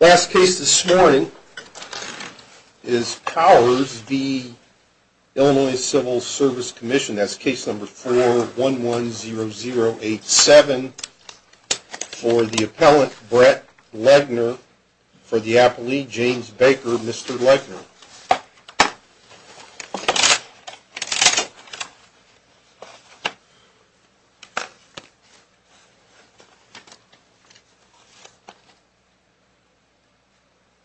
Last case this morning is Powers v. Illinois Civil Service Commission. That's case number 4110087 for the appellant, Brett Legner, for the appellee, James Baker, Mr. Legner.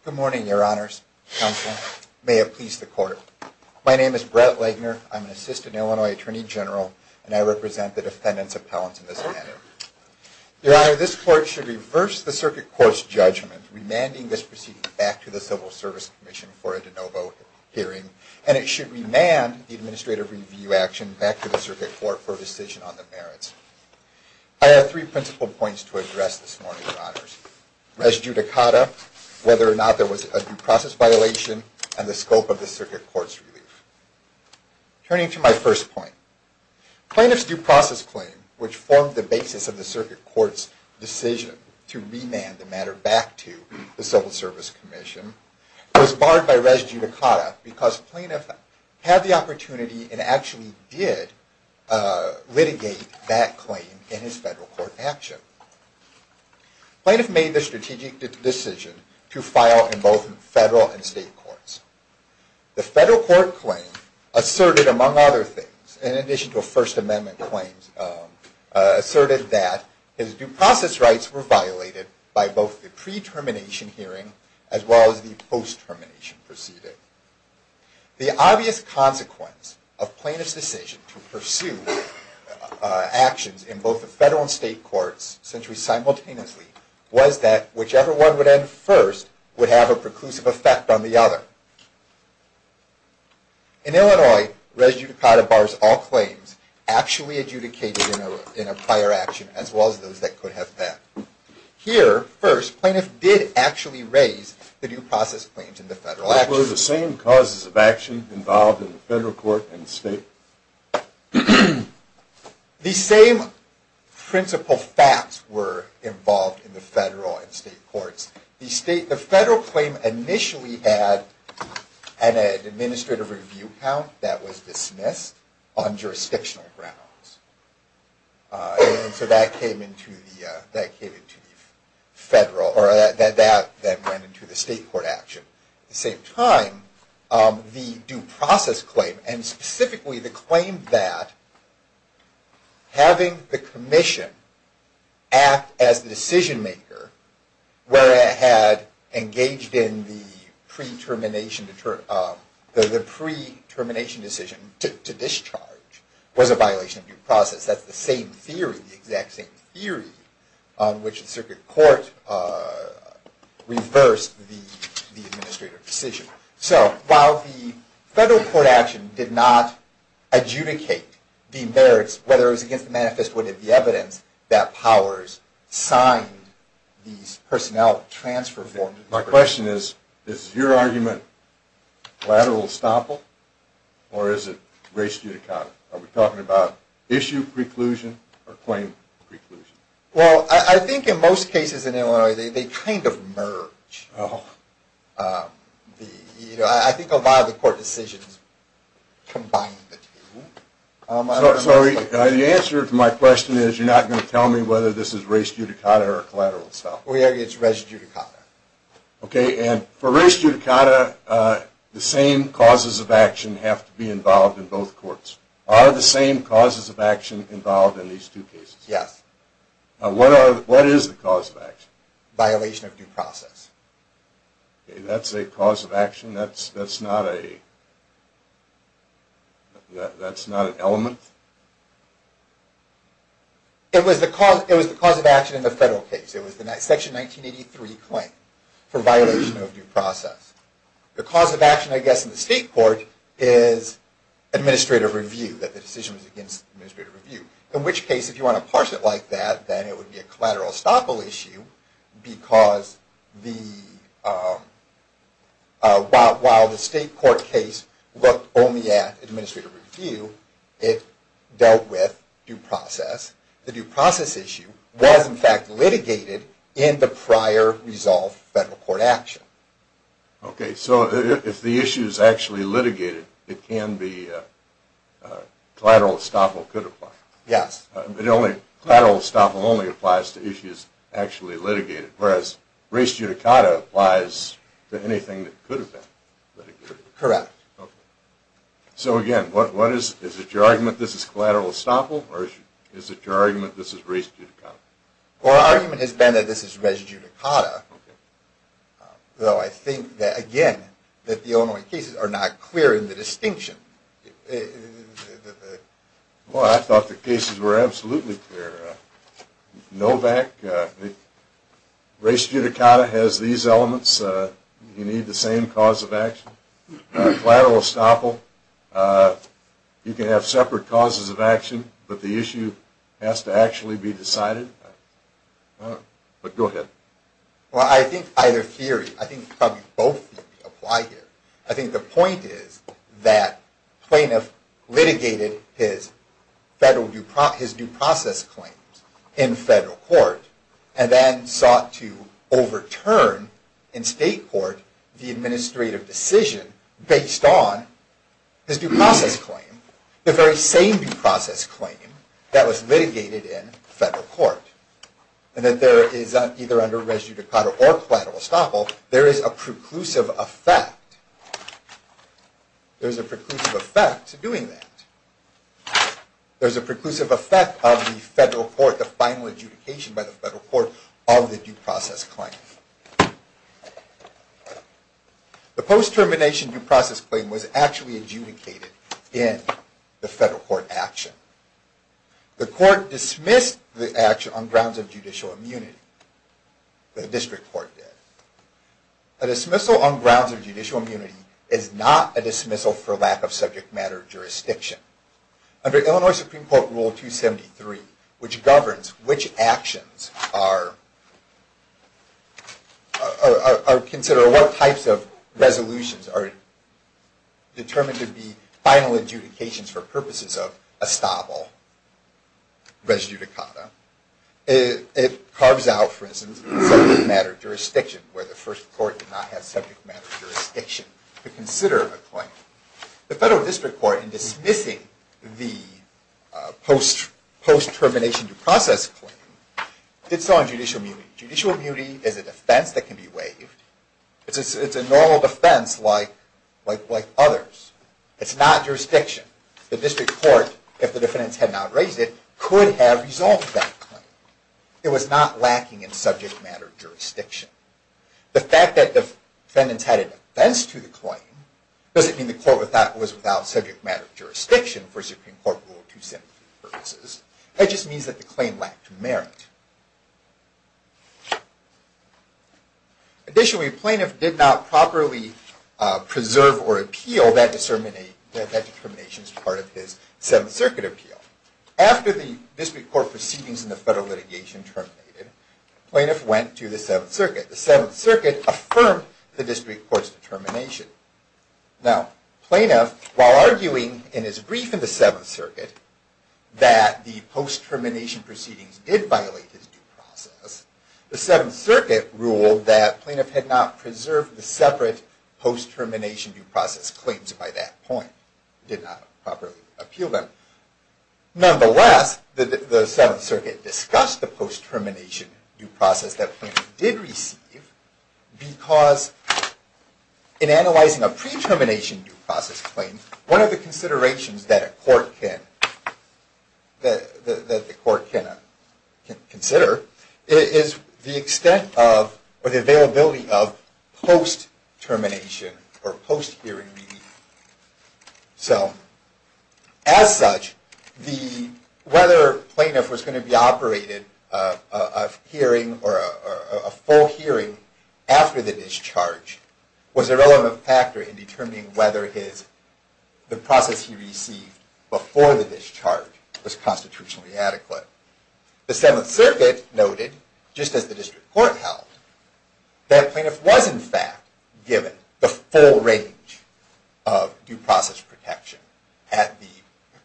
Good morning, your honors. Counsel, may it please the court. My name is Brett Legner. I'm an assistant Illinois attorney general, and I represent the defendants appellants in this matter. Your honor, this court should reverse the circuit court's judgment, remanding this proceeding back to the Civil Service Commission for a de novo hearing, and it should remand the administrative review action back to the circuit court for a decision on the merits. I have three principal points to address this morning, your honors. Res judicata, whether or not there was a due process violation, and the scope of the circuit court's relief. Turning to my first point. Plaintiff's due process claim, which formed the basis of the circuit court's decision to remand the matter back to the Civil Service Commission, was barred by res judicata because plaintiff had the opportunity and actually did litigate that claim in his federal court action. Plaintiff made the strategic decision to file in both federal and state courts. The federal court claim asserted, among other things, in addition to a First Amendment claim, asserted that his due process rights were violated by both the pre-termination hearing as well as the post-termination proceeding. The obvious consequence of plaintiff's decision to pursue actions in both the federal and state courts simultaneously was that whichever one would end first would have a preclusive effect on the other. In Illinois, res judicata bars all claims actually adjudicated in a prior action as well as those that could have been. Here, first, plaintiff did actually raise the due process claims in the federal action. Were the same causes of action involved in the federal court and state? The same principal facts were involved in the federal and state courts. The federal claim initially had an administrative review count that was dismissed on jurisdictional grounds. That went into the state court action. At the same time, the due process claim, and specifically the claim that having the commission act as the decision maker where it had engaged in the pre-termination decision to discharge, was a violation of due process. That's the same theory, the exact same theory, on which the circuit court reversed the administrative decision. So while the federal court action did not adjudicate the merits, whether it was against the manifest or the evidence, that powers signed these personnel transfer forms. My question is, is your argument collateral estoppel or is it res judicata? Are we talking about issue preclusion or claim preclusion? Well, I think in most cases in Illinois they kind of merge. I think a lot of the court decisions combine the two. So the answer to my question is you're not going to tell me whether this is res judicata or collateral estoppel? We argue it's res judicata. Okay, and for res judicata, the same causes of action have to be involved in both courts. Are the same causes of action involved in these two cases? Yes. What is the cause of action? Violation of due process. That's a cause of action? That's not an element? It was the cause of action in the federal case. It was the section 1983 claim for violation of due process. The cause of action, I guess, in the state court is administrative review, that the decision was against administrative review. In which case, if you want to parse it like that, then it would be a collateral estoppel issue because while the state court case looked only at administrative review, it dealt with due process. The due process issue was, in fact, litigated in the prior resolved federal court action. Okay, so if the issue is actually litigated, it can be collateral estoppel could apply. Yes. Collateral estoppel only applies to issues actually litigated, whereas res judicata applies to anything that could have been litigated. Correct. So again, is it your argument this is collateral estoppel or is it your argument this is res judicata? Our argument has been that this is res judicata, though I think that, again, that the Illinois cases are not clear in the distinction. Well, I thought the cases were absolutely clear. Novak, res judicata has these elements. You need the same cause of action. Collateral estoppel, you can have separate causes of action, but the issue has to actually be decided. But go ahead. Well, I think either theory, I think probably both apply here. I think the point is that plaintiff litigated his due process claims in federal court and then sought to overturn in state court the administrative decision based on his due process claim, the very same due process claim that was litigated in federal court, and that there is either under res judicata or collateral estoppel, there is a preclusive effect. There is a preclusive effect to doing that. There is a preclusive effect of the federal court, the final adjudication by the federal court of the due process claim. The post-termination due process claim was actually adjudicated in the federal court action. The court dismissed the action on grounds of judicial immunity. The district court did. A dismissal on grounds of judicial immunity is not a dismissal for lack of subject matter jurisdiction. Under Illinois Supreme Court Rule 273, which governs which actions are considered, or what types of resolutions are determined to be final adjudications for purposes of estoppel res judicata, it carves out, for instance, subject matter jurisdiction, where the first court did not have subject matter jurisdiction to consider a claim. The federal district court, in dismissing the post-termination due process claim, did so on judicial immunity. Judicial immunity is a defense that can be waived. It's a normal defense like others. It's not jurisdiction. The district court, if the defendants had not raised it, could have resolved that claim. It was not lacking in subject matter jurisdiction. The fact that the defendants had a defense to the claim doesn't mean the court was without subject matter jurisdiction for Supreme Court Rule 273 purposes. It just means that the claim lacked merit. Additionally, the plaintiff did not properly preserve or appeal that determination as part of his Seventh Circuit appeal. After the district court proceedings in the federal litigation terminated, the plaintiff went to the Seventh Circuit. The Seventh Circuit affirmed the district court's determination. Now, the plaintiff, while arguing in his brief in the Seventh Circuit, that the post-termination proceedings did violate his due process, the Seventh Circuit ruled that the plaintiff had not preserved the separate post-termination due process claims by that point. It did not properly appeal them. Nonetheless, the Seventh Circuit discussed the post-termination due process that the plaintiff did receive because in analyzing a pre-termination due process claim, one of the considerations that the court can consider is the availability of post-termination or post-hearing relief. So, as such, whether a plaintiff was going to be operated a hearing or a full hearing after the discharge was a relevant factor in determining whether the process he received before the discharge was constitutionally adequate. The Seventh Circuit noted, just as the district court held, that the plaintiff was, in fact, given the full range of due process protection at the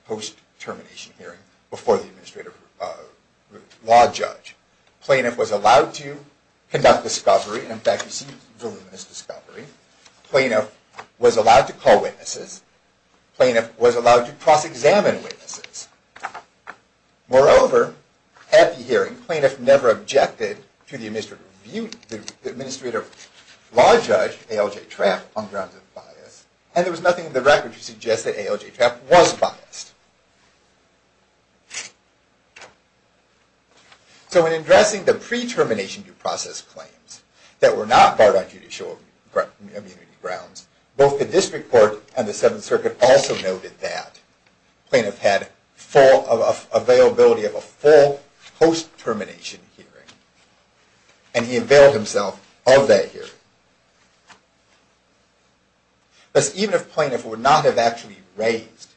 post-termination hearing before the administrative law judge. The plaintiff was allowed to conduct discovery. In fact, he received voluminous discovery. The plaintiff was allowed to call witnesses. The plaintiff was allowed to cross-examine witnesses. Moreover, at the hearing, the plaintiff never objected to the administrative law judge, A.L.J. Trapp, on grounds of bias. And there was nothing in the record to suggest that A.L.J. Trapp was biased. So, in addressing the pre-termination due process claims that were not barred on judicial immunity grounds, both the district court and the Seventh Circuit also noted that the plaintiff had availability of a full post-termination hearing, and he availed himself of that hearing. Thus, even if the plaintiff would not have actually raised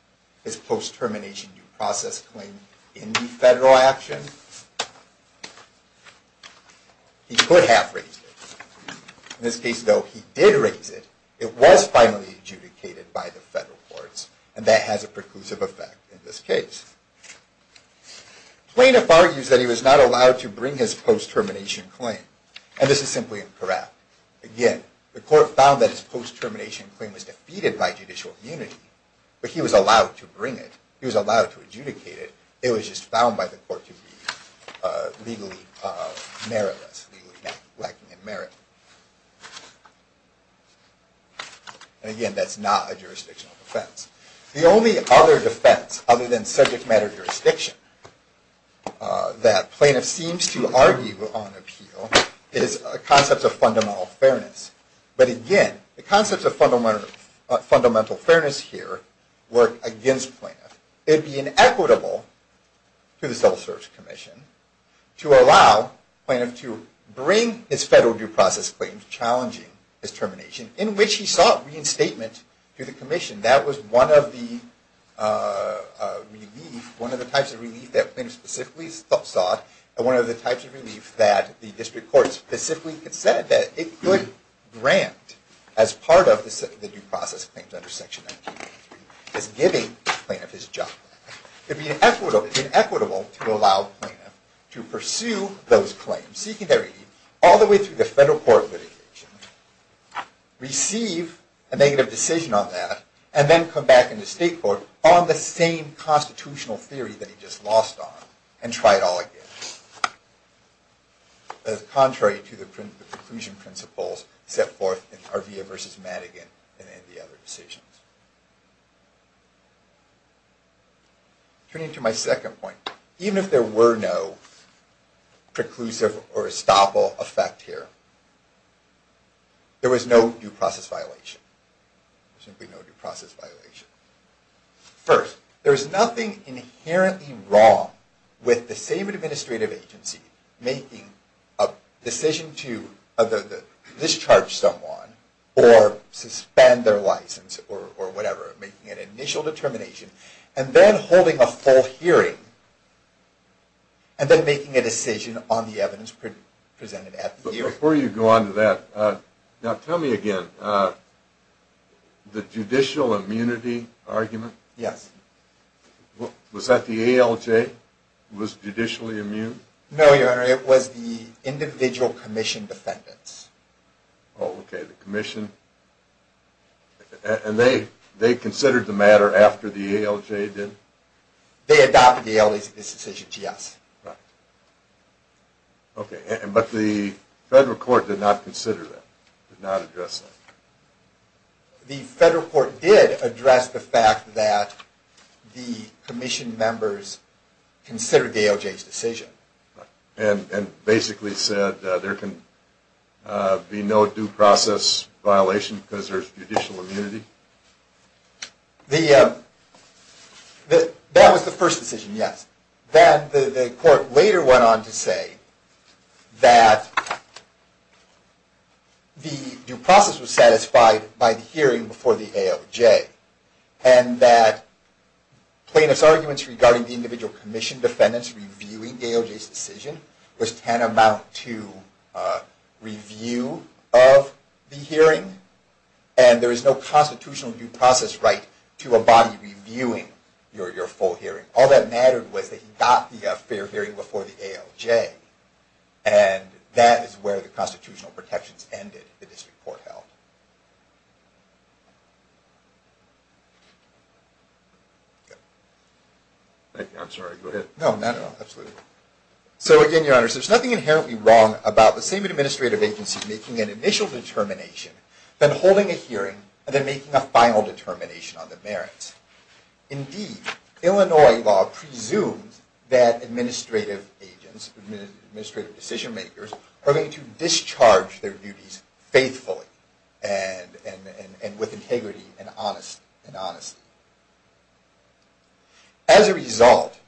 his post-termination due process claim in the federal action, he could have raised it. In this case, though, he did raise it. It was finally adjudicated by the federal courts, and that has a preclusive effect in this case. The plaintiff argues that he was not allowed to bring his post-termination claim. And this is simply incorrect. Again, the court found that his post-termination claim was defeated by judicial immunity, but he was allowed to bring it. He was allowed to adjudicate it. It was just found by the court to be legally meritless, legally lacking in merit. And again, that's not a jurisdictional defense. The only other defense, other than subject matter jurisdiction, that plaintiff seems to argue on appeal is concepts of fundamental fairness. But again, the concepts of fundamental fairness here work against plaintiff. It would be inequitable to the Civil Service Commission to allow plaintiff to bring his federal due process claims challenging his termination, in which he sought reinstatement to the commission. That was one of the types of relief that plaintiff specifically sought, and one of the types of relief that the district courts specifically said that it could grant as part of the due process claims under Section 1993, is giving plaintiff his job back. It would be inequitable to allow the plaintiff to pursue those claims, seeking their aid, all the way through the federal court litigation, receive a negative decision on that, and then come back into state court on the same constitutional theory that he just lost on, and try it all again. That is contrary to the preclusion principles set forth in Arvea v. Madigan and any of the other decisions. Turning to my second point, even if there were no preclusive or estoppel effect here, there was no due process violation. There was simply no due process violation. First, there is nothing inherently wrong with the same administrative agency making a decision to discharge someone, or suspend their license, or whatever, making an initial determination, and then holding a full hearing, and then making a decision on the evidence presented at the hearing. Before you go on to that, now tell me again, the judicial immunity argument? Yes. Was that the ALJ? Was it judicially immune? No, Your Honor, it was the individual commission defendants. Okay, the commission. And they considered the matter after the ALJ did? They adopted the ALJ's decision, yes. Okay, but the federal court did not consider that? Did not address that? The federal court did address the fact that the commission members considered the ALJ's decision. And basically said there can be no due process violation because there is judicial immunity? That was the first decision, yes. Then the court later went on to say that the due process was satisfied by the hearing before the ALJ, and that plaintiff's arguments regarding the individual commission defendants reviewing the ALJ's decision was tantamount to review of the hearing, and there is no constitutional due process right to a body reviewing your full hearing. All that mattered was that he got the fair hearing before the ALJ, and that is where the constitutional protections ended, the district court held. So again, Your Honor, there is nothing inherently wrong about the same administrative agency making an initial determination, then holding a hearing, and then making a final determination on the merits. Indeed, Illinois law presumes that administrative agents, administrative decision makers, are going to discharge their duties faithfully and with integrity and honestly. As a result,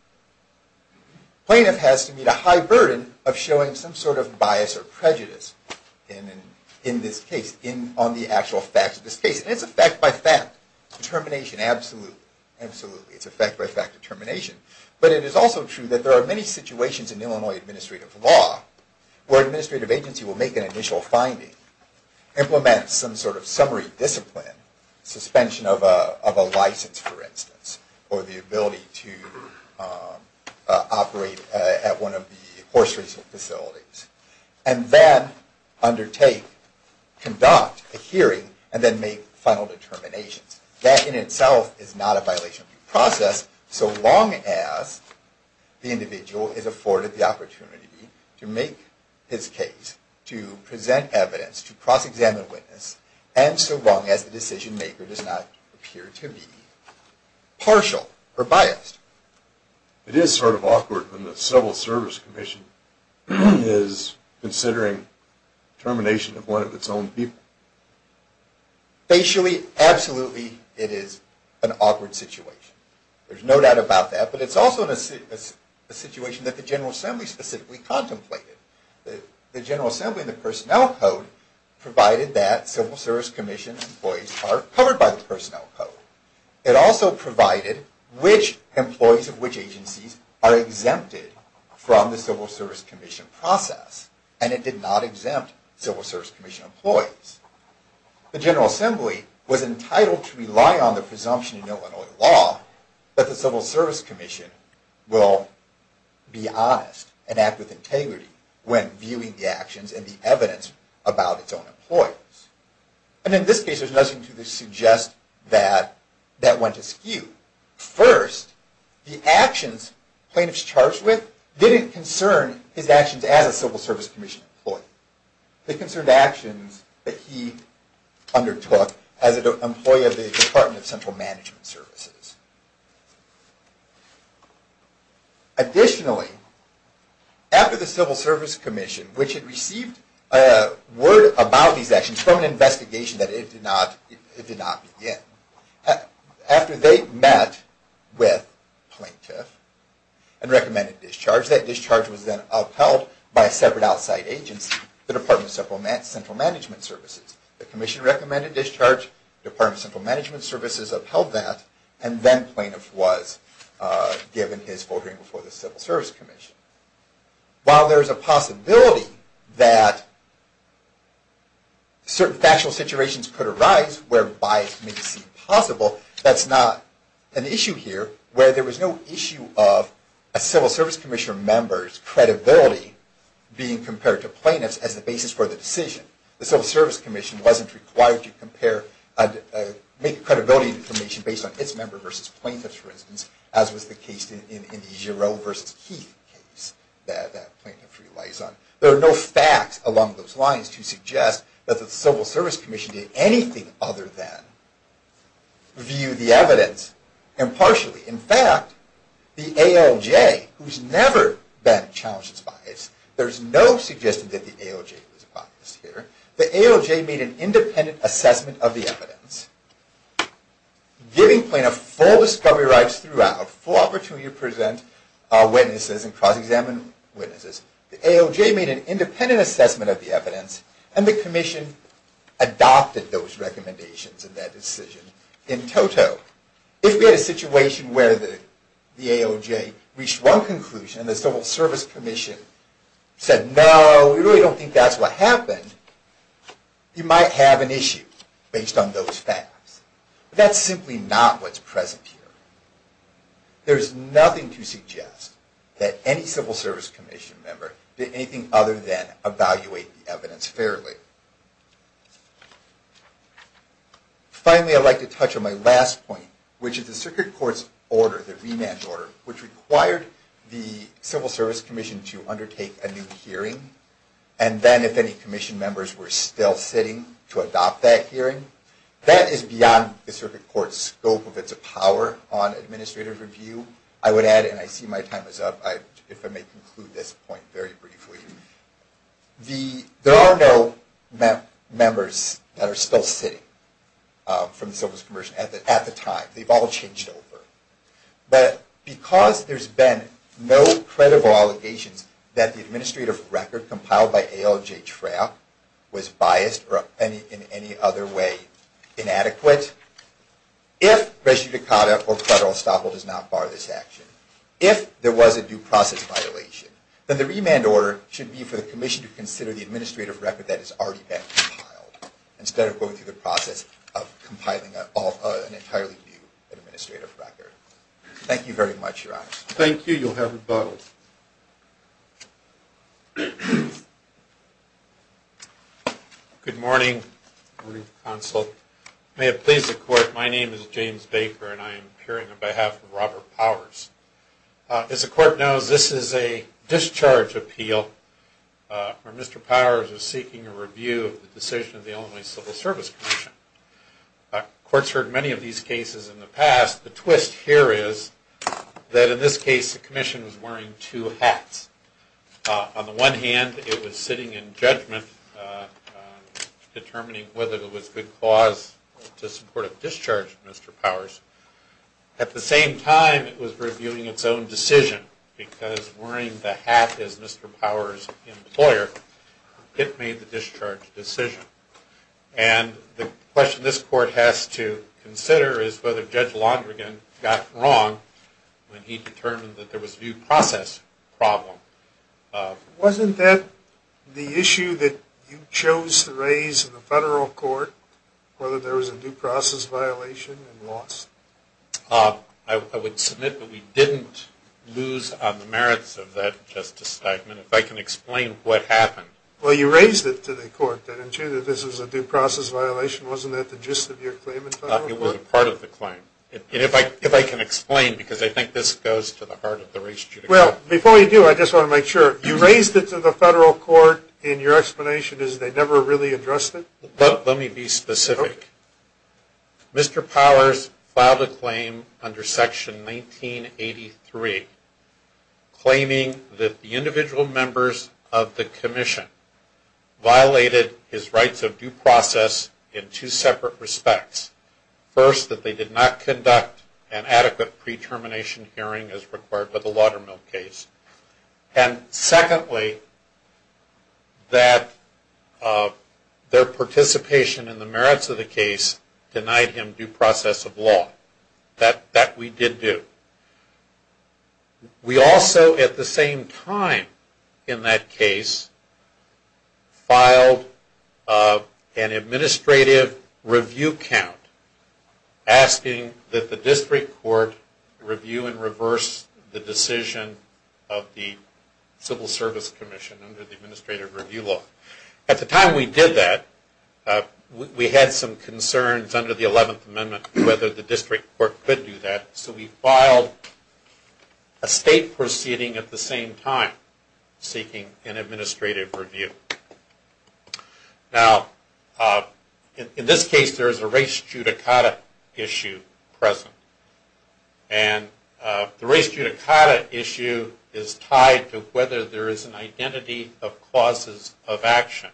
plaintiff has to meet a high burden of showing some sort of bias or prejudice in this case, on the actual facts of this case. It is a fact-by-fact determination, absolutely. It is a fact-by-fact determination. But it is also true that there are many situations in Illinois administrative law where an administrative agency will make an initial finding, implement some sort of summary discipline, suspension of a license for instance, or the ability to operate at one of the horse racing facilities, and then undertake, conduct a hearing, and then make final determinations. That in itself is not a violation of due process, so long as the individual is afforded the opportunity to make his case, to present evidence, to cross-examine a witness, and so long as the decision maker does not appear to be partial or biased. It is sort of awkward when the Civil Service Commission is considering termination of one of its own people. Facially, absolutely it is an awkward situation. There is no doubt about that, but it is also a situation that the General Assembly specifically contemplated. The General Assembly and the Personnel Code provided that Civil Service Commission employees are covered by the Personnel Code. It also provided which employees of which agencies are exempted from the Civil Service Commission process, and it did not exempt Civil Service Commission employees. The General Assembly was entitled to rely on the presumption in Illinois law that the Civil Service Commission will be honest and act with integrity when viewing the actions and the evidence about its own employees. And in this case, there is nothing to suggest that that went askew. First, the actions plaintiffs charged with didn't concern his actions as a Civil Service Commission employee. They concerned actions that he undertook as an employee of the Department of Central Management Services. Additionally, after the Civil Service Commission, which had received a word about these actions from an investigation that it did not begin, after they met with plaintiff and recommended discharge, that discharge was then upheld by a separate outside agency, the Department of Central Management Services. The commission recommended discharge, Department of Central Management Services upheld that, and then plaintiff was given his voting before the Civil Service Commission. While there is a possibility that certain factual situations could arise where bias may seem possible, that's not an issue here, where there was no issue of a Civil Service Commission member's credibility being compared to plaintiffs as the basis for the decision. The Civil Service Commission wasn't required to make credibility information based on its member versus plaintiff's, for instance, as was the case in the Giro versus Heath case that plaintiff relies on. There are no facts along those lines to suggest that the Civil Service Commission did anything other than view the evidence impartially. In fact, the ALJ, who's never been challenged as biased, there's no suggestion that the ALJ was biased here. The ALJ made an independent assessment of the evidence, giving plaintiff full discovery rights throughout, full opportunity to present witnesses and cross-examine witnesses. The ALJ made an independent assessment of the evidence, and the commission adopted those recommendations in that decision. In toto, if we had a situation where the ALJ reached one conclusion and the Civil Service Commission said, no, we really don't think that's what happened, you might have an issue based on those facts. But that's simply not what's present here. There's nothing to suggest that any Civil Service Commission member did anything other than evaluate the evidence fairly. Finally, I'd like to touch on my last point, which is the Circuit Court's order, the remand order, which required the Civil Service Commission to undertake a new hearing, and then, if any commission members were still sitting, to adopt that hearing. That is beyond the Circuit Court's scope of its power on administrative review. I would add, and I see my time is up, if I may conclude this point very briefly. There are no members that are still sitting from the Civil Service Commission at the time. They've all changed over. But because there's been no credible allegations that the administrative record compiled by ALJ Trapp was biased or in any other way inadequate, if Res Eudicata or Federal Estoppel does not bar this action, if there was a due process violation, then the remand order should be for the commission to consider the administrative record that has already been compiled, instead of going through the process of compiling an entirely new administrative record. Thank you very much, Your Honor. Thank you. You'll have rebuttal. Good morning. Good morning, Counsel. May it please the Court, my name is James Baker, and I am appearing on behalf of Robert Powers. As the Court knows, this is a discharge appeal where Mr. Powers is seeking a review of the decision of the Illinois Civil Service Commission. The Court's heard many of these cases in the past. The twist here is that in this case, the Commission was wearing two hats. On the one hand, it was sitting in judgment, determining whether it was good cause to support a discharge of Mr. Powers. At the same time, it was reviewing its own decision, because wearing the hat as Mr. Powers' employer, it made the discharge decision. And the question this Court has to consider is whether Judge Londrigan got it wrong when he determined that there was a due process problem. Wasn't that the issue that you chose to raise in the federal court, whether there was a due process violation and loss? I would submit that we didn't lose on the merits of that justice statement. If I can explain what happened. Well, you raised it to the Court, didn't you, that this was a due process violation. Wasn't that the gist of your claim in federal court? It was part of the claim. And if I can explain, because I think this goes to the heart of the race judicial. Well, before you do, I just want to make sure. You raised it to the federal court, and your explanation is they never really addressed it? Let me be specific. Mr. Powers filed a claim under Section 1983, claiming that the individual members of the commission violated his rights of due process in two separate respects. First, that they did not conduct an adequate pre-termination hearing as required by the Laudermill case. And secondly, that their participation in the merits of the case denied him due process of law. That we did do. We also, at the same time in that case, filed an administrative review count asking that the district court review and reverse the decision of the Civil Service Commission under the administrative review law. At the time we did that, we had some concerns under the 11th Amendment whether the district court could do that. So we filed a state proceeding at the same time seeking an administrative review. Now, in this case there is a race judicata issue present. And the race judicata issue is tied to whether there is an identity of causes of action.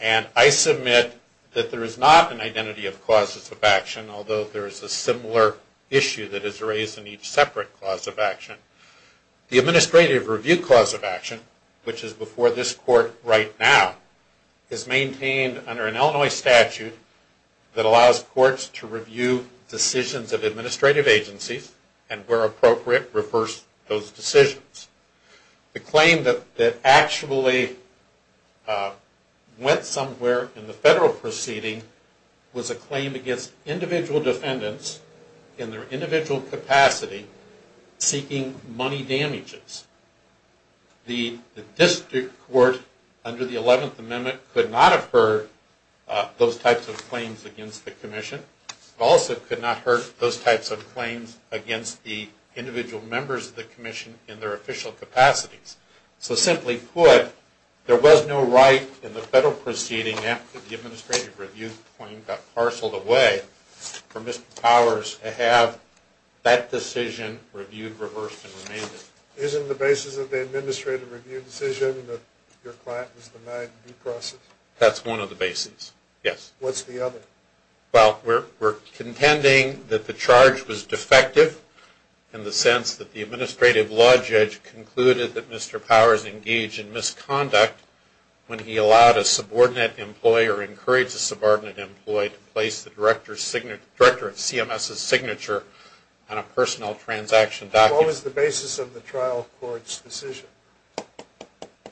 And I submit that there is not an identity of causes of action, although there is a similar issue that is raised in each separate cause of action. The administrative review cause of action, which is before this court right now, is maintained under an Illinois statute that allows courts to review decisions of administrative agencies and, where appropriate, reverse those decisions. The claim that actually went somewhere in the federal proceeding was a claim against individual defendants, in their individual capacity, seeking money damages. The district court under the 11th Amendment could not have heard those types of claims against the commission. It also could not have heard those types of claims against the individual members of the commission in their official capacities. So simply put, there was no right in the federal proceeding after the administrative review claim got parceled away for Mr. Powers to have that decision reviewed, reversed, and remanded. Isn't the basis of the administrative review decision that your client was denied due process? That's one of the bases, yes. What's the other? Well, we're contending that the charge was defective in the sense that the administrative law judge concluded that Mr. Powers engaged in misconduct when he allowed a subordinate employee or encouraged a subordinate employee to place the director of CMS's signature on a personnel transaction document. What was the basis of the trial court's decision?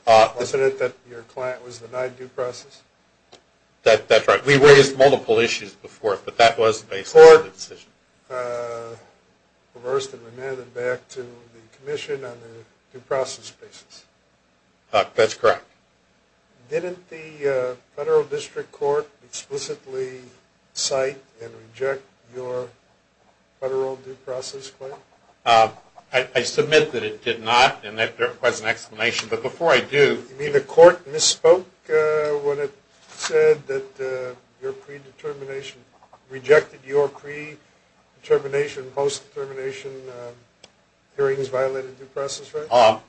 Wasn't it that your client was denied due process? That's right. We raised multiple issues before, but that was the basis of the decision. Reversed and remanded back to the commission on the due process basis. That's correct. Didn't the federal district court explicitly cite and reject your federal due process claim? I submit that it did not, and that requires an explanation. But before I do... You mean the court misspoke when it said that your predetermination and rejected your pre-determination, post-determination hearings violated due process, right?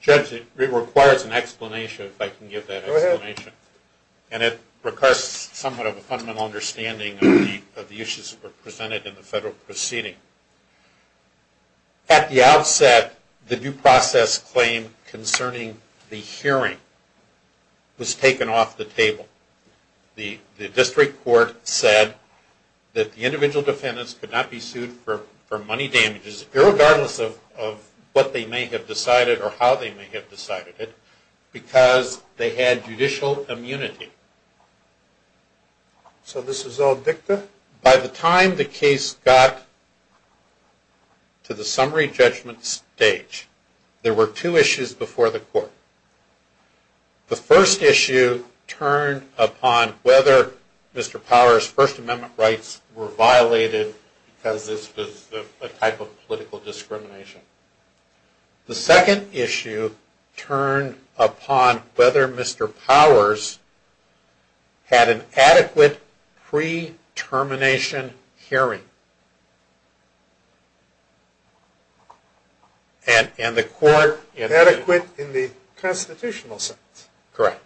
Judge, it requires an explanation, if I can give that explanation. Go ahead. And it requires somewhat of a fundamental understanding of the issues that were presented in the federal proceeding. At the outset, the due process claim concerning the hearing was taken off the table. The district court said that the individual defendants could not be sued for money damages, irregardless of what they may have decided or how they may have decided it, because they had judicial immunity. So this was all dicta? By the time the case got to the summary judgment stage, there were two issues before the court. The first issue turned upon whether Mr. Powers' First Amendment rights were violated because this was a type of political discrimination. The second issue turned upon whether Mr. Powers had an adequate pre-termination hearing. And the court? Adequate in the constitutional sense. Correct.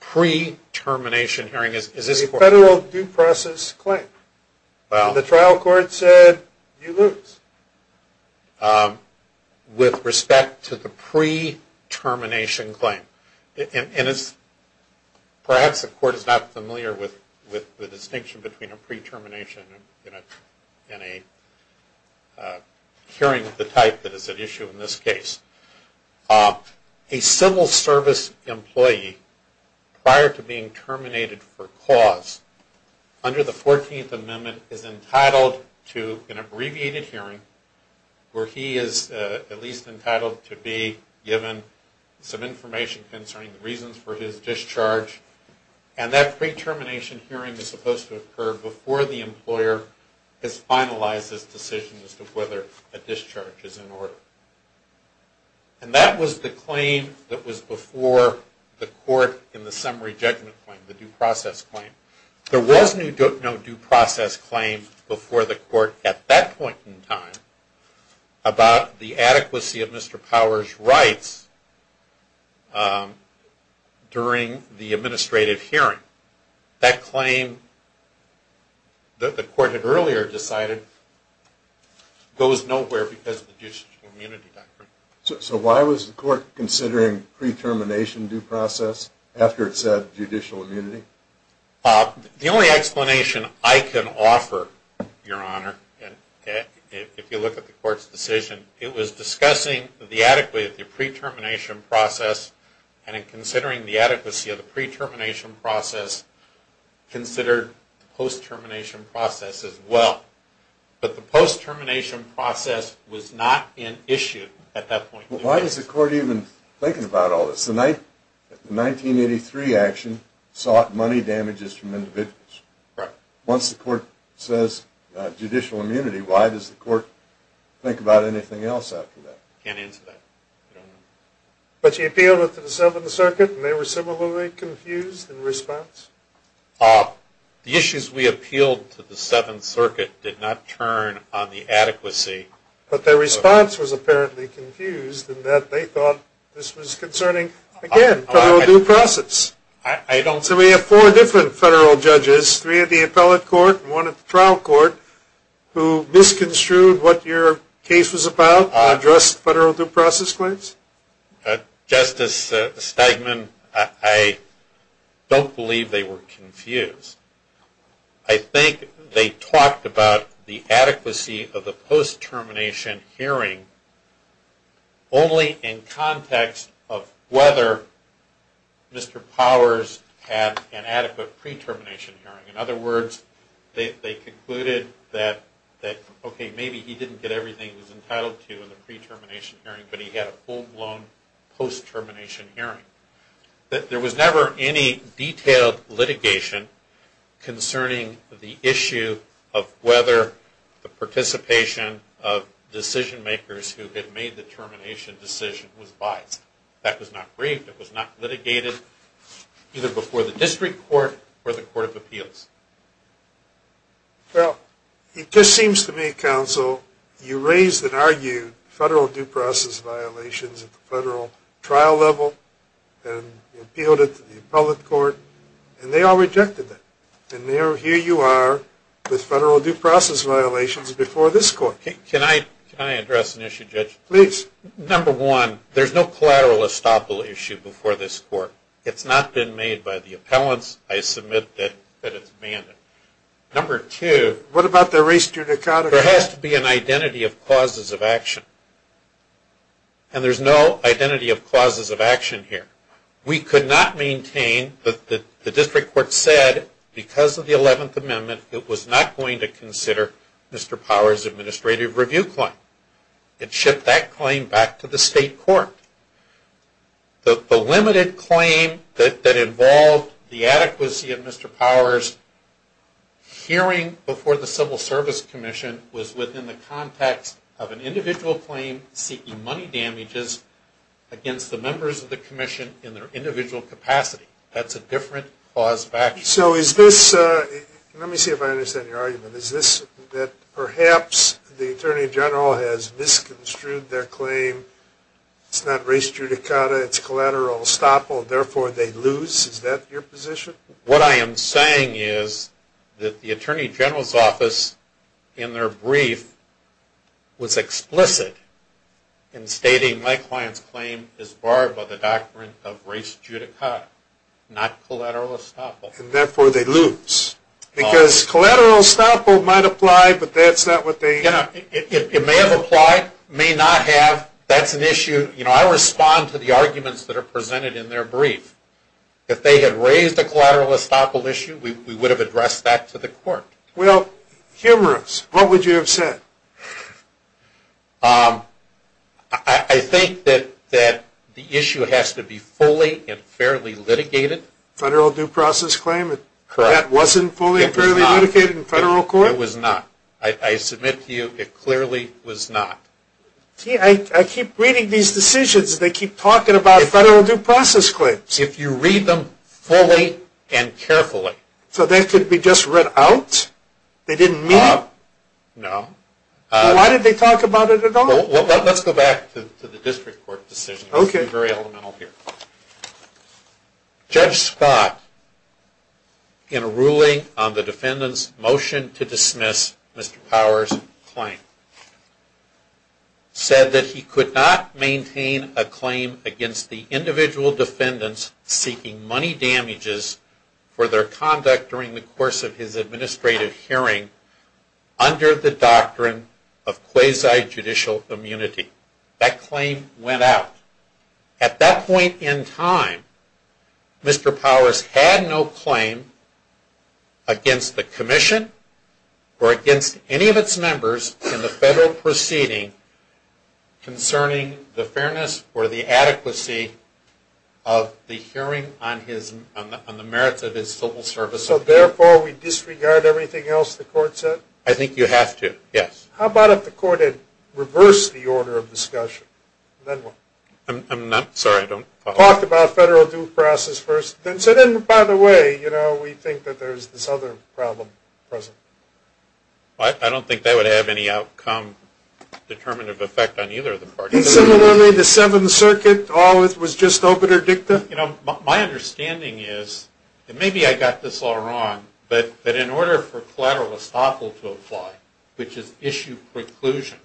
Pre-termination hearing is this court? The federal due process claim. Well. The trial court said you lose. With respect to the pre-termination claim, and perhaps the court is not familiar with the distinction between a pre-termination and a hearing of the type that is at issue in this case, a civil service employee prior to being terminated for cause under the 14th Amendment is entitled to an abbreviated hearing where he is at least entitled to be given some information concerning the reasons for his discharge. And that pre-termination hearing is supposed to occur before the employer has finalized his decision as to whether a discharge is in order. And that was the claim that was before the court in the summary judgment claim, the due process claim. There was no due process claim before the court at that point in time about the adequacy of Mr. Powers' rights during the administrative hearing. That claim that the court had earlier decided goes nowhere because of the judicial immunity doctrine. So why was the court considering pre-termination due process after it said judicial immunity? The only explanation I can offer, Your Honor, if you look at the court's decision, it was discussing the adequacy of the pre-termination process and in considering the adequacy of the pre-termination process, considered the post-termination process as well. But the post-termination process was not in issue at that point. Why is the court even thinking about all this? The 1983 action sought money damages from individuals. Once the court says judicial immunity, why does the court think about anything else after that? I can't answer that. But you appealed it to the Seventh Circuit, and they were similarly confused in response? The issues we appealed to the Seventh Circuit did not turn on the adequacy. But their response was apparently confused in that they thought this was concerning, again, federal due process. So we have four different federal judges, three at the appellate court and one at the trial court, who misconstrued what your case was about and addressed federal due process claims? Justice Stegman, I don't believe they were confused. I think they talked about the adequacy of the post-termination hearing only in context of whether Mr. Powers had an adequate pre-termination hearing. In other words, they concluded that, okay, maybe he didn't get everything he was entitled to in the pre-termination hearing, but he had a full-blown post-termination hearing. There was never any detailed litigation concerning the issue of whether the participation of decision-makers who had made the termination decision was biased. That was not briefed. It was not litigated either before the district court or the court of appeals. Well, it just seems to me, counsel, you raised and argued federal due process violations at the federal trial level and appealed it to the appellate court, and they all rejected it. And here you are with federal due process violations before this court. Can I address an issue, Judge? Please. Number one, there's no collateral estoppel issue before this court. It's not been made by the appellants. I submit that it's mandated. Number two, there has to be an identity of causes of action, and there's no identity of causes of action here. We could not maintain that the district court said, because of the 11th Amendment, it was not going to consider Mr. Powers' administrative review claim. It shipped that claim back to the state court. The limited claim that involved the adequacy of Mr. Powers' hearing before the Civil Service Commission was within the context of an individual claim seeking money damages against the members of the commission in their individual capacity. That's a different cause of action. So is this – let me see if I understand your argument. Is this that perhaps the attorney general has misconstrued their claim, it's not res judicata, it's collateral estoppel, therefore they lose? Is that your position? What I am saying is that the attorney general's office, in their brief, was explicit in stating my client's claim is barred by the doctrine of res judicata, not collateral estoppel. And therefore they lose. Because collateral estoppel might apply, but that's not what they – It may have applied, may not have, that's an issue. I respond to the arguments that are presented in their brief. If they had raised a collateral estoppel issue, we would have addressed that to the court. Well, humorous. What would you have said? I think that the issue has to be fully and fairly litigated. Federal due process claim? Correct. That wasn't fully and fairly litigated in federal court? It was not. I submit to you it clearly was not. I keep reading these decisions. They keep talking about federal due process claims. If you read them fully and carefully. So they could be just read out? They didn't mean it? No. Why did they talk about it at all? Let's go back to the district court decision. Okay. Let's be very elemental here. Judge Scott, in a ruling on the defendant's motion to dismiss Mr. Powers' claim, said that he could not maintain a claim against the individual defendants seeking money damages for their conduct during the course of his administrative hearing under the doctrine of quasi-judicial immunity. That claim went out. At that point in time, Mr. Powers had no claim against the commission or against any of its members in the federal proceeding concerning the fairness or the adequacy of the hearing on the merits of his civil service. So, therefore, we disregard everything else the court said? I think you have to, yes. How about if the court had reversed the order of discussion? I'm sorry, I don't follow. Talked about federal due process first. So then, by the way, we think that there's this other problem present. I don't think that would have any outcome, determinative effect on either of the parties. And similarly, the Seventh Circuit always was just obiter dicta? My understanding is, and maybe I got this all wrong, but in order for collateral estoppel to apply, which is issue preclusion,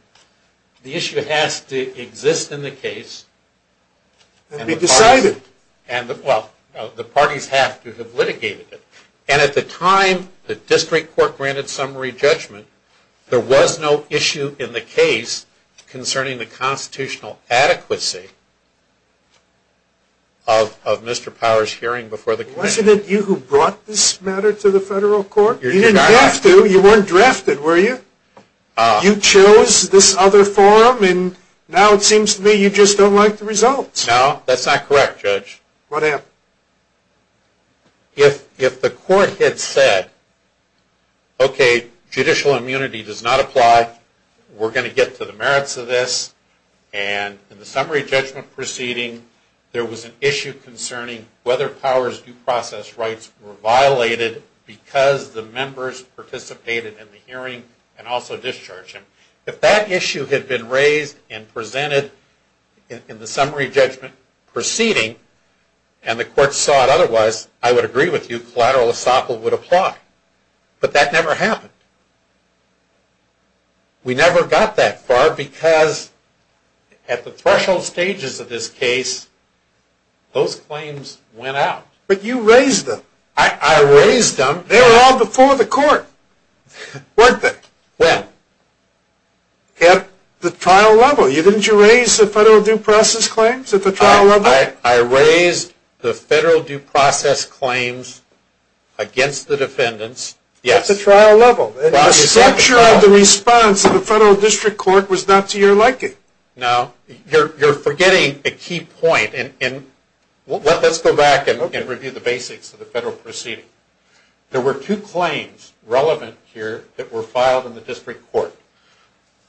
the issue has to exist in the case. And be decided. Well, the parties have to have litigated it. And at the time the district court granted summary judgment, there was no issue in the case concerning the constitutional adequacy of Mr. Powers' hearing before the commission. Wasn't it you who brought this matter to the federal court? You didn't have to. You weren't drafted, were you? You chose this other forum, and now it seems to me you just don't like the results. No, that's not correct, Judge. What happened? If the court had said, okay, judicial immunity does not apply. We're going to get to the merits of this. And in the summary judgment proceeding, there was an issue concerning whether Powers' due process rights were violated because the members participated in the hearing and also discharged him. If that issue had been raised and presented in the summary judgment proceeding and the court saw it otherwise, I would agree with you. Collateral estoppel would apply. But that never happened. We never got that far because at the threshold stages of this case, those claims went out. But you raised them. I raised them. They were all before the court, weren't they? When? At the trial level. Didn't you raise the federal due process claims at the trial level? I raised the federal due process claims against the defendants. Yes. At the trial level. The structure of the response of the federal district court was not to your liking. No. You're forgetting a key point. Let's go back and review the basics of the federal proceeding. There were two claims relevant here that were filed in the district court.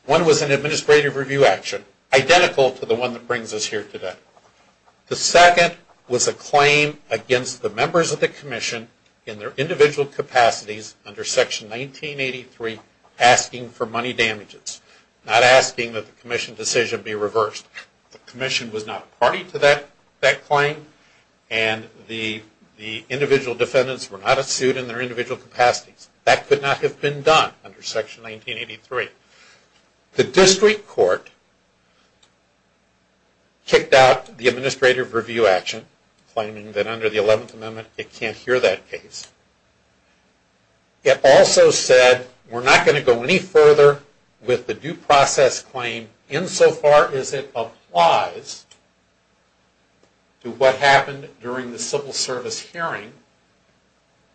One was an administrative review action, identical to the one that brings us here today. The second was a claim against the members of the commission in their individual capacities under Section 1983 asking for money damages, not asking that the commission decision be reversed. The commission was not party to that claim, and the individual defendants were not a suit in their individual capacities. That could not have been done under Section 1983. The district court kicked out the administrative review action, claiming that under the 11th Amendment it can't hear that case. It also said we're not going to go any further with the due process claim insofar as it applies to what happened during the civil service hearing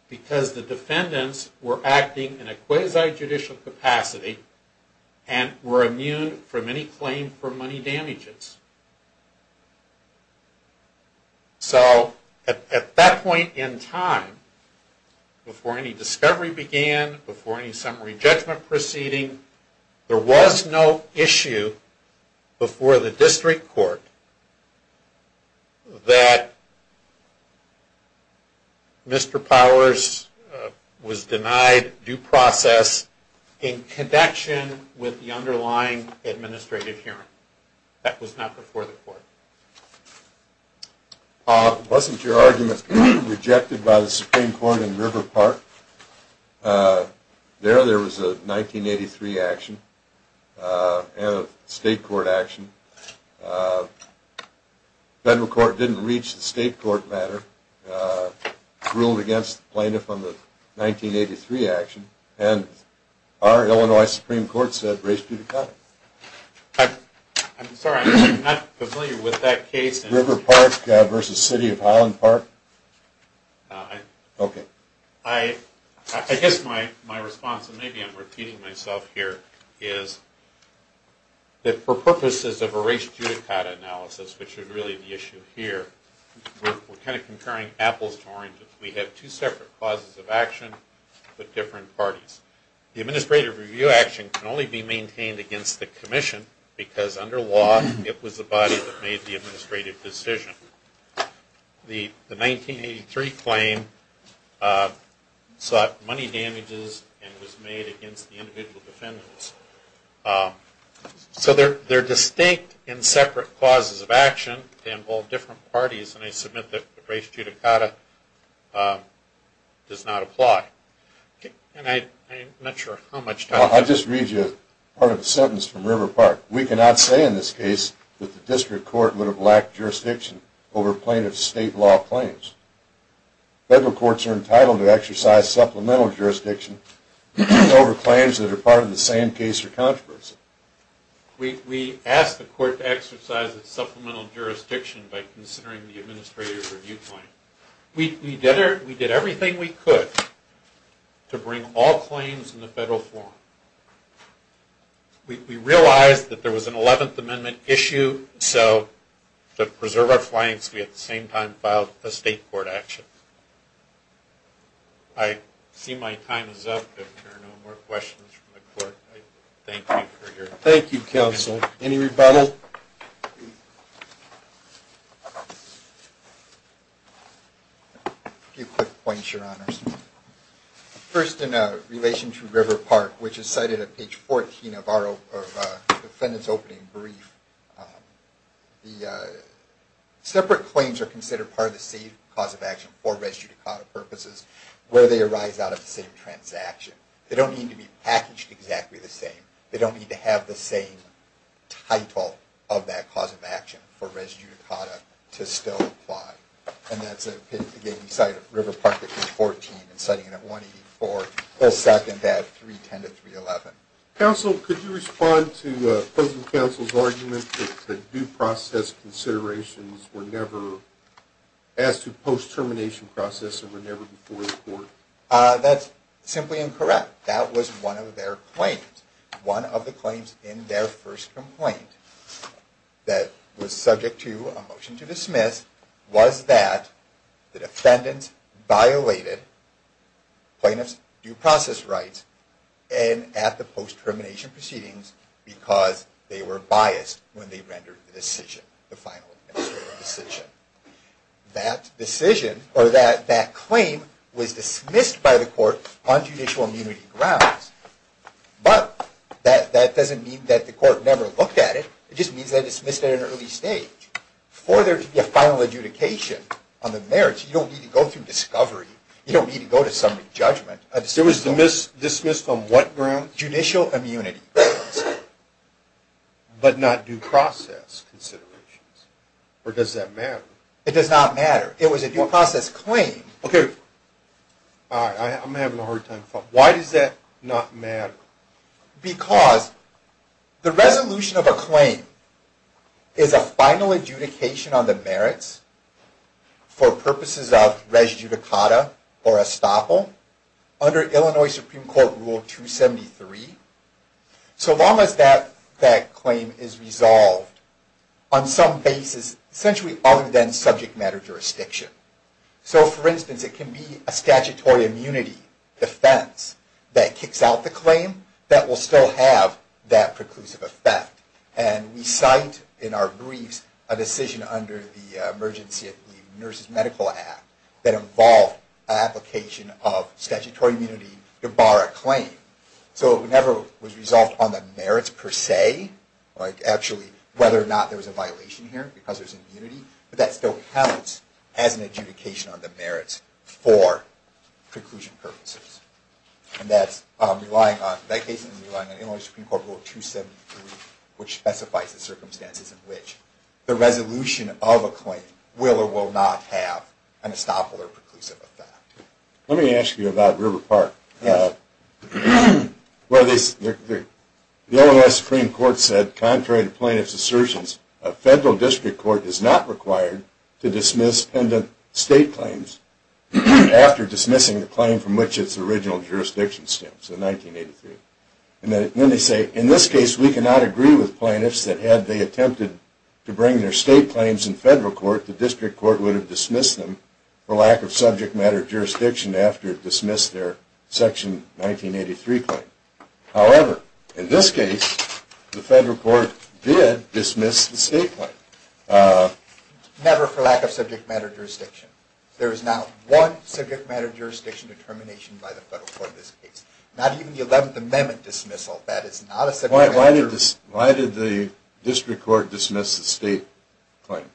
because the defendants were acting in a quasi-judicial capacity and were immune from any claim for money damages. So at that point in time, before any discovery began, before any summary judgment proceeding, there was no issue before the district court that Mr. Powers was denied due process in connection with the underlying administrative hearing. That was not before the court. Wasn't your argument rejected by the Supreme Court in River Park? There, there was a 1983 action and a state court action. Federal court didn't reach the state court matter, ruled against the plaintiff on the 1983 action, and our Illinois Supreme Court said race judicata. I'm sorry, I'm not familiar with that case. River Park versus City of Highland Park? Okay. I guess my response, and maybe I'm repeating myself here, is that for purposes of a race judicata analysis, which is really the issue here, we're kind of comparing apples to oranges. We have two separate clauses of action with different parties. The administrative review action can only be maintained against the commission because under law it was the body that made the administrative decision. The 1983 claim sought money damages and was made against the individual defendants. So they're distinct and separate clauses of action. They involve different parties, and I submit that race judicata does not apply. And I'm not sure how much time... I'll just read you part of a sentence from River Park. We cannot say in this case that the district court would have lacked jurisdiction over plaintiff's state law claims. Federal courts are entitled to exercise supplemental jurisdiction over claims that are part of the same case or controversy. We asked the court to exercise its supplemental jurisdiction by considering the administrative review claim. We did everything we could to bring all claims in the federal forum. We realized that there was an 11th Amendment issue, so to preserve our clients we at the same time filed a state court action. I see my time is up. If there are no more questions from the court, I thank you for your time. Thank you, counsel. Any rebuttal? A few quick points, Your Honors. First, in relation to River Park, which is cited at page 14 of the defendant's opening brief, the separate claims are considered part of the same cause of action for res judicata purposes where they arise out of the same transaction. They don't need to be packaged exactly the same. They don't need to have the same title of that cause of action for res judicata to still apply. And that's, again, you cite River Park at page 14 and citing it at 184. We'll second that 310 to 311. Counsel, could you respond to the opposing counsel's argument that due process considerations were never asked to post-termination process and were never before the court? That's simply incorrect. That was one of their claims. One of the claims in their first complaint that was subject to a motion to dismiss was that the defendant violated plaintiff's due process rights and at the post-termination proceedings because they were biased when they rendered the final decision. That claim was dismissed by the court on judicial immunity grounds. But that doesn't mean that the court never looked at it. It just means that it was dismissed at an early stage. For there to be a final adjudication on the merits, you don't need to go through discovery. You don't need to go to summary judgment. It was dismissed on what grounds? Judicial immunity grounds. But not due process considerations? Or does that matter? It does not matter. It was a due process claim. Okay. I'm having a hard time following. Why does that not matter? Because the resolution of a claim is a final adjudication on the merits for purposes of res judicata or estoppel. Under Illinois Supreme Court Rule 273, so long as that claim is resolved on some basis, essentially other than subject matter jurisdiction. So, for instance, it can be a statutory immunity defense that kicks out the claim that will still have that preclusive effect. And we cite in our briefs a decision under the emergency nurses medical act that involved an application of statutory immunity to bar a claim. So it never was resolved on the merits per se, like actually whether or not there was a violation here because there's immunity. But that still counts as an adjudication on the merits for preclusion purposes. And that's relying on, in that case, relying on Illinois Supreme Court Rule 273, which specifies the circumstances in which the resolution of a claim will or will not have an estoppel or preclusive effect. Let me ask you about River Park. The Illinois Supreme Court said, contrary to plaintiff's assertions, a federal district court is not required to dismiss pendant state claims after dismissing the claim from which its original jurisdiction stems in 1983. And then they say, in this case, we cannot agree with plaintiffs that had they attempted to bring their state claims in federal court, the district court would have dismissed them for lack of subject matter jurisdiction after it dismissed their Section 1983 claim. However, in this case, the federal court did dismiss the state claim. Never for lack of subject matter jurisdiction. There is not one subject matter jurisdiction determination by the federal court in this case. Not even the 11th Amendment dismissal. That is not a subject matter jurisdiction. Why did the district court dismiss the state claim?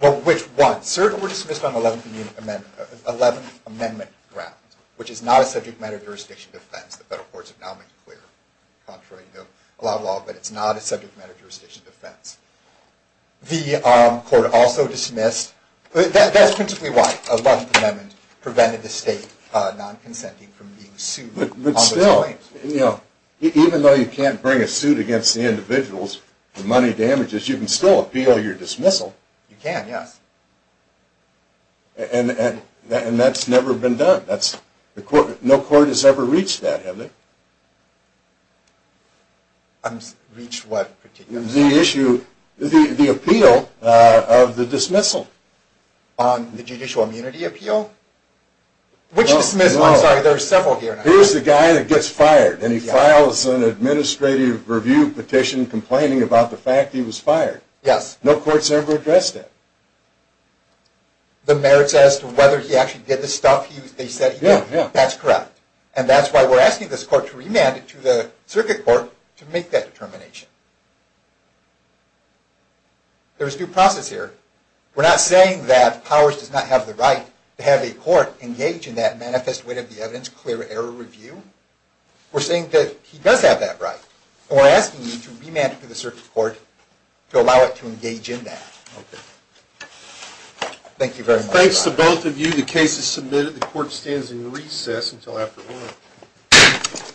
Well, which one? Certainly, it was dismissed on the 11th Amendment grounds, which is not a subject matter jurisdiction defense. The federal courts have now made it clear. Contrary to a lot of law, but it's not a subject matter jurisdiction defense. The court also dismissed, that's principally why. The 11th Amendment prevented the state non-consenting from being sued. But still, even though you can't bring a suit against the individuals, the money damages, you can still appeal your dismissal. You can, yes. And that's never been done. No court has ever reached that, has it? Reached what? The issue, the appeal of the dismissal. On the judicial immunity appeal? Which dismissal? I'm sorry, there are several here. Here's the guy that gets fired, and he files an administrative review petition complaining about the fact he was fired. Yes. No court's ever addressed that. The merits as to whether he actually did the stuff they said he did? Yeah, yeah. That's correct. And that's why we're asking this court to remand it to the circuit court to make that determination. There is due process here. We're not saying that Powers does not have the right to have a court engage in that manifest wit of the evidence, clear error review. We're saying that he does have that right. And we're asking you to remand it to the circuit court to allow it to engage in that. Okay. Thank you very much. Thanks to both of you. The case is submitted. The court stands in recess until after 1.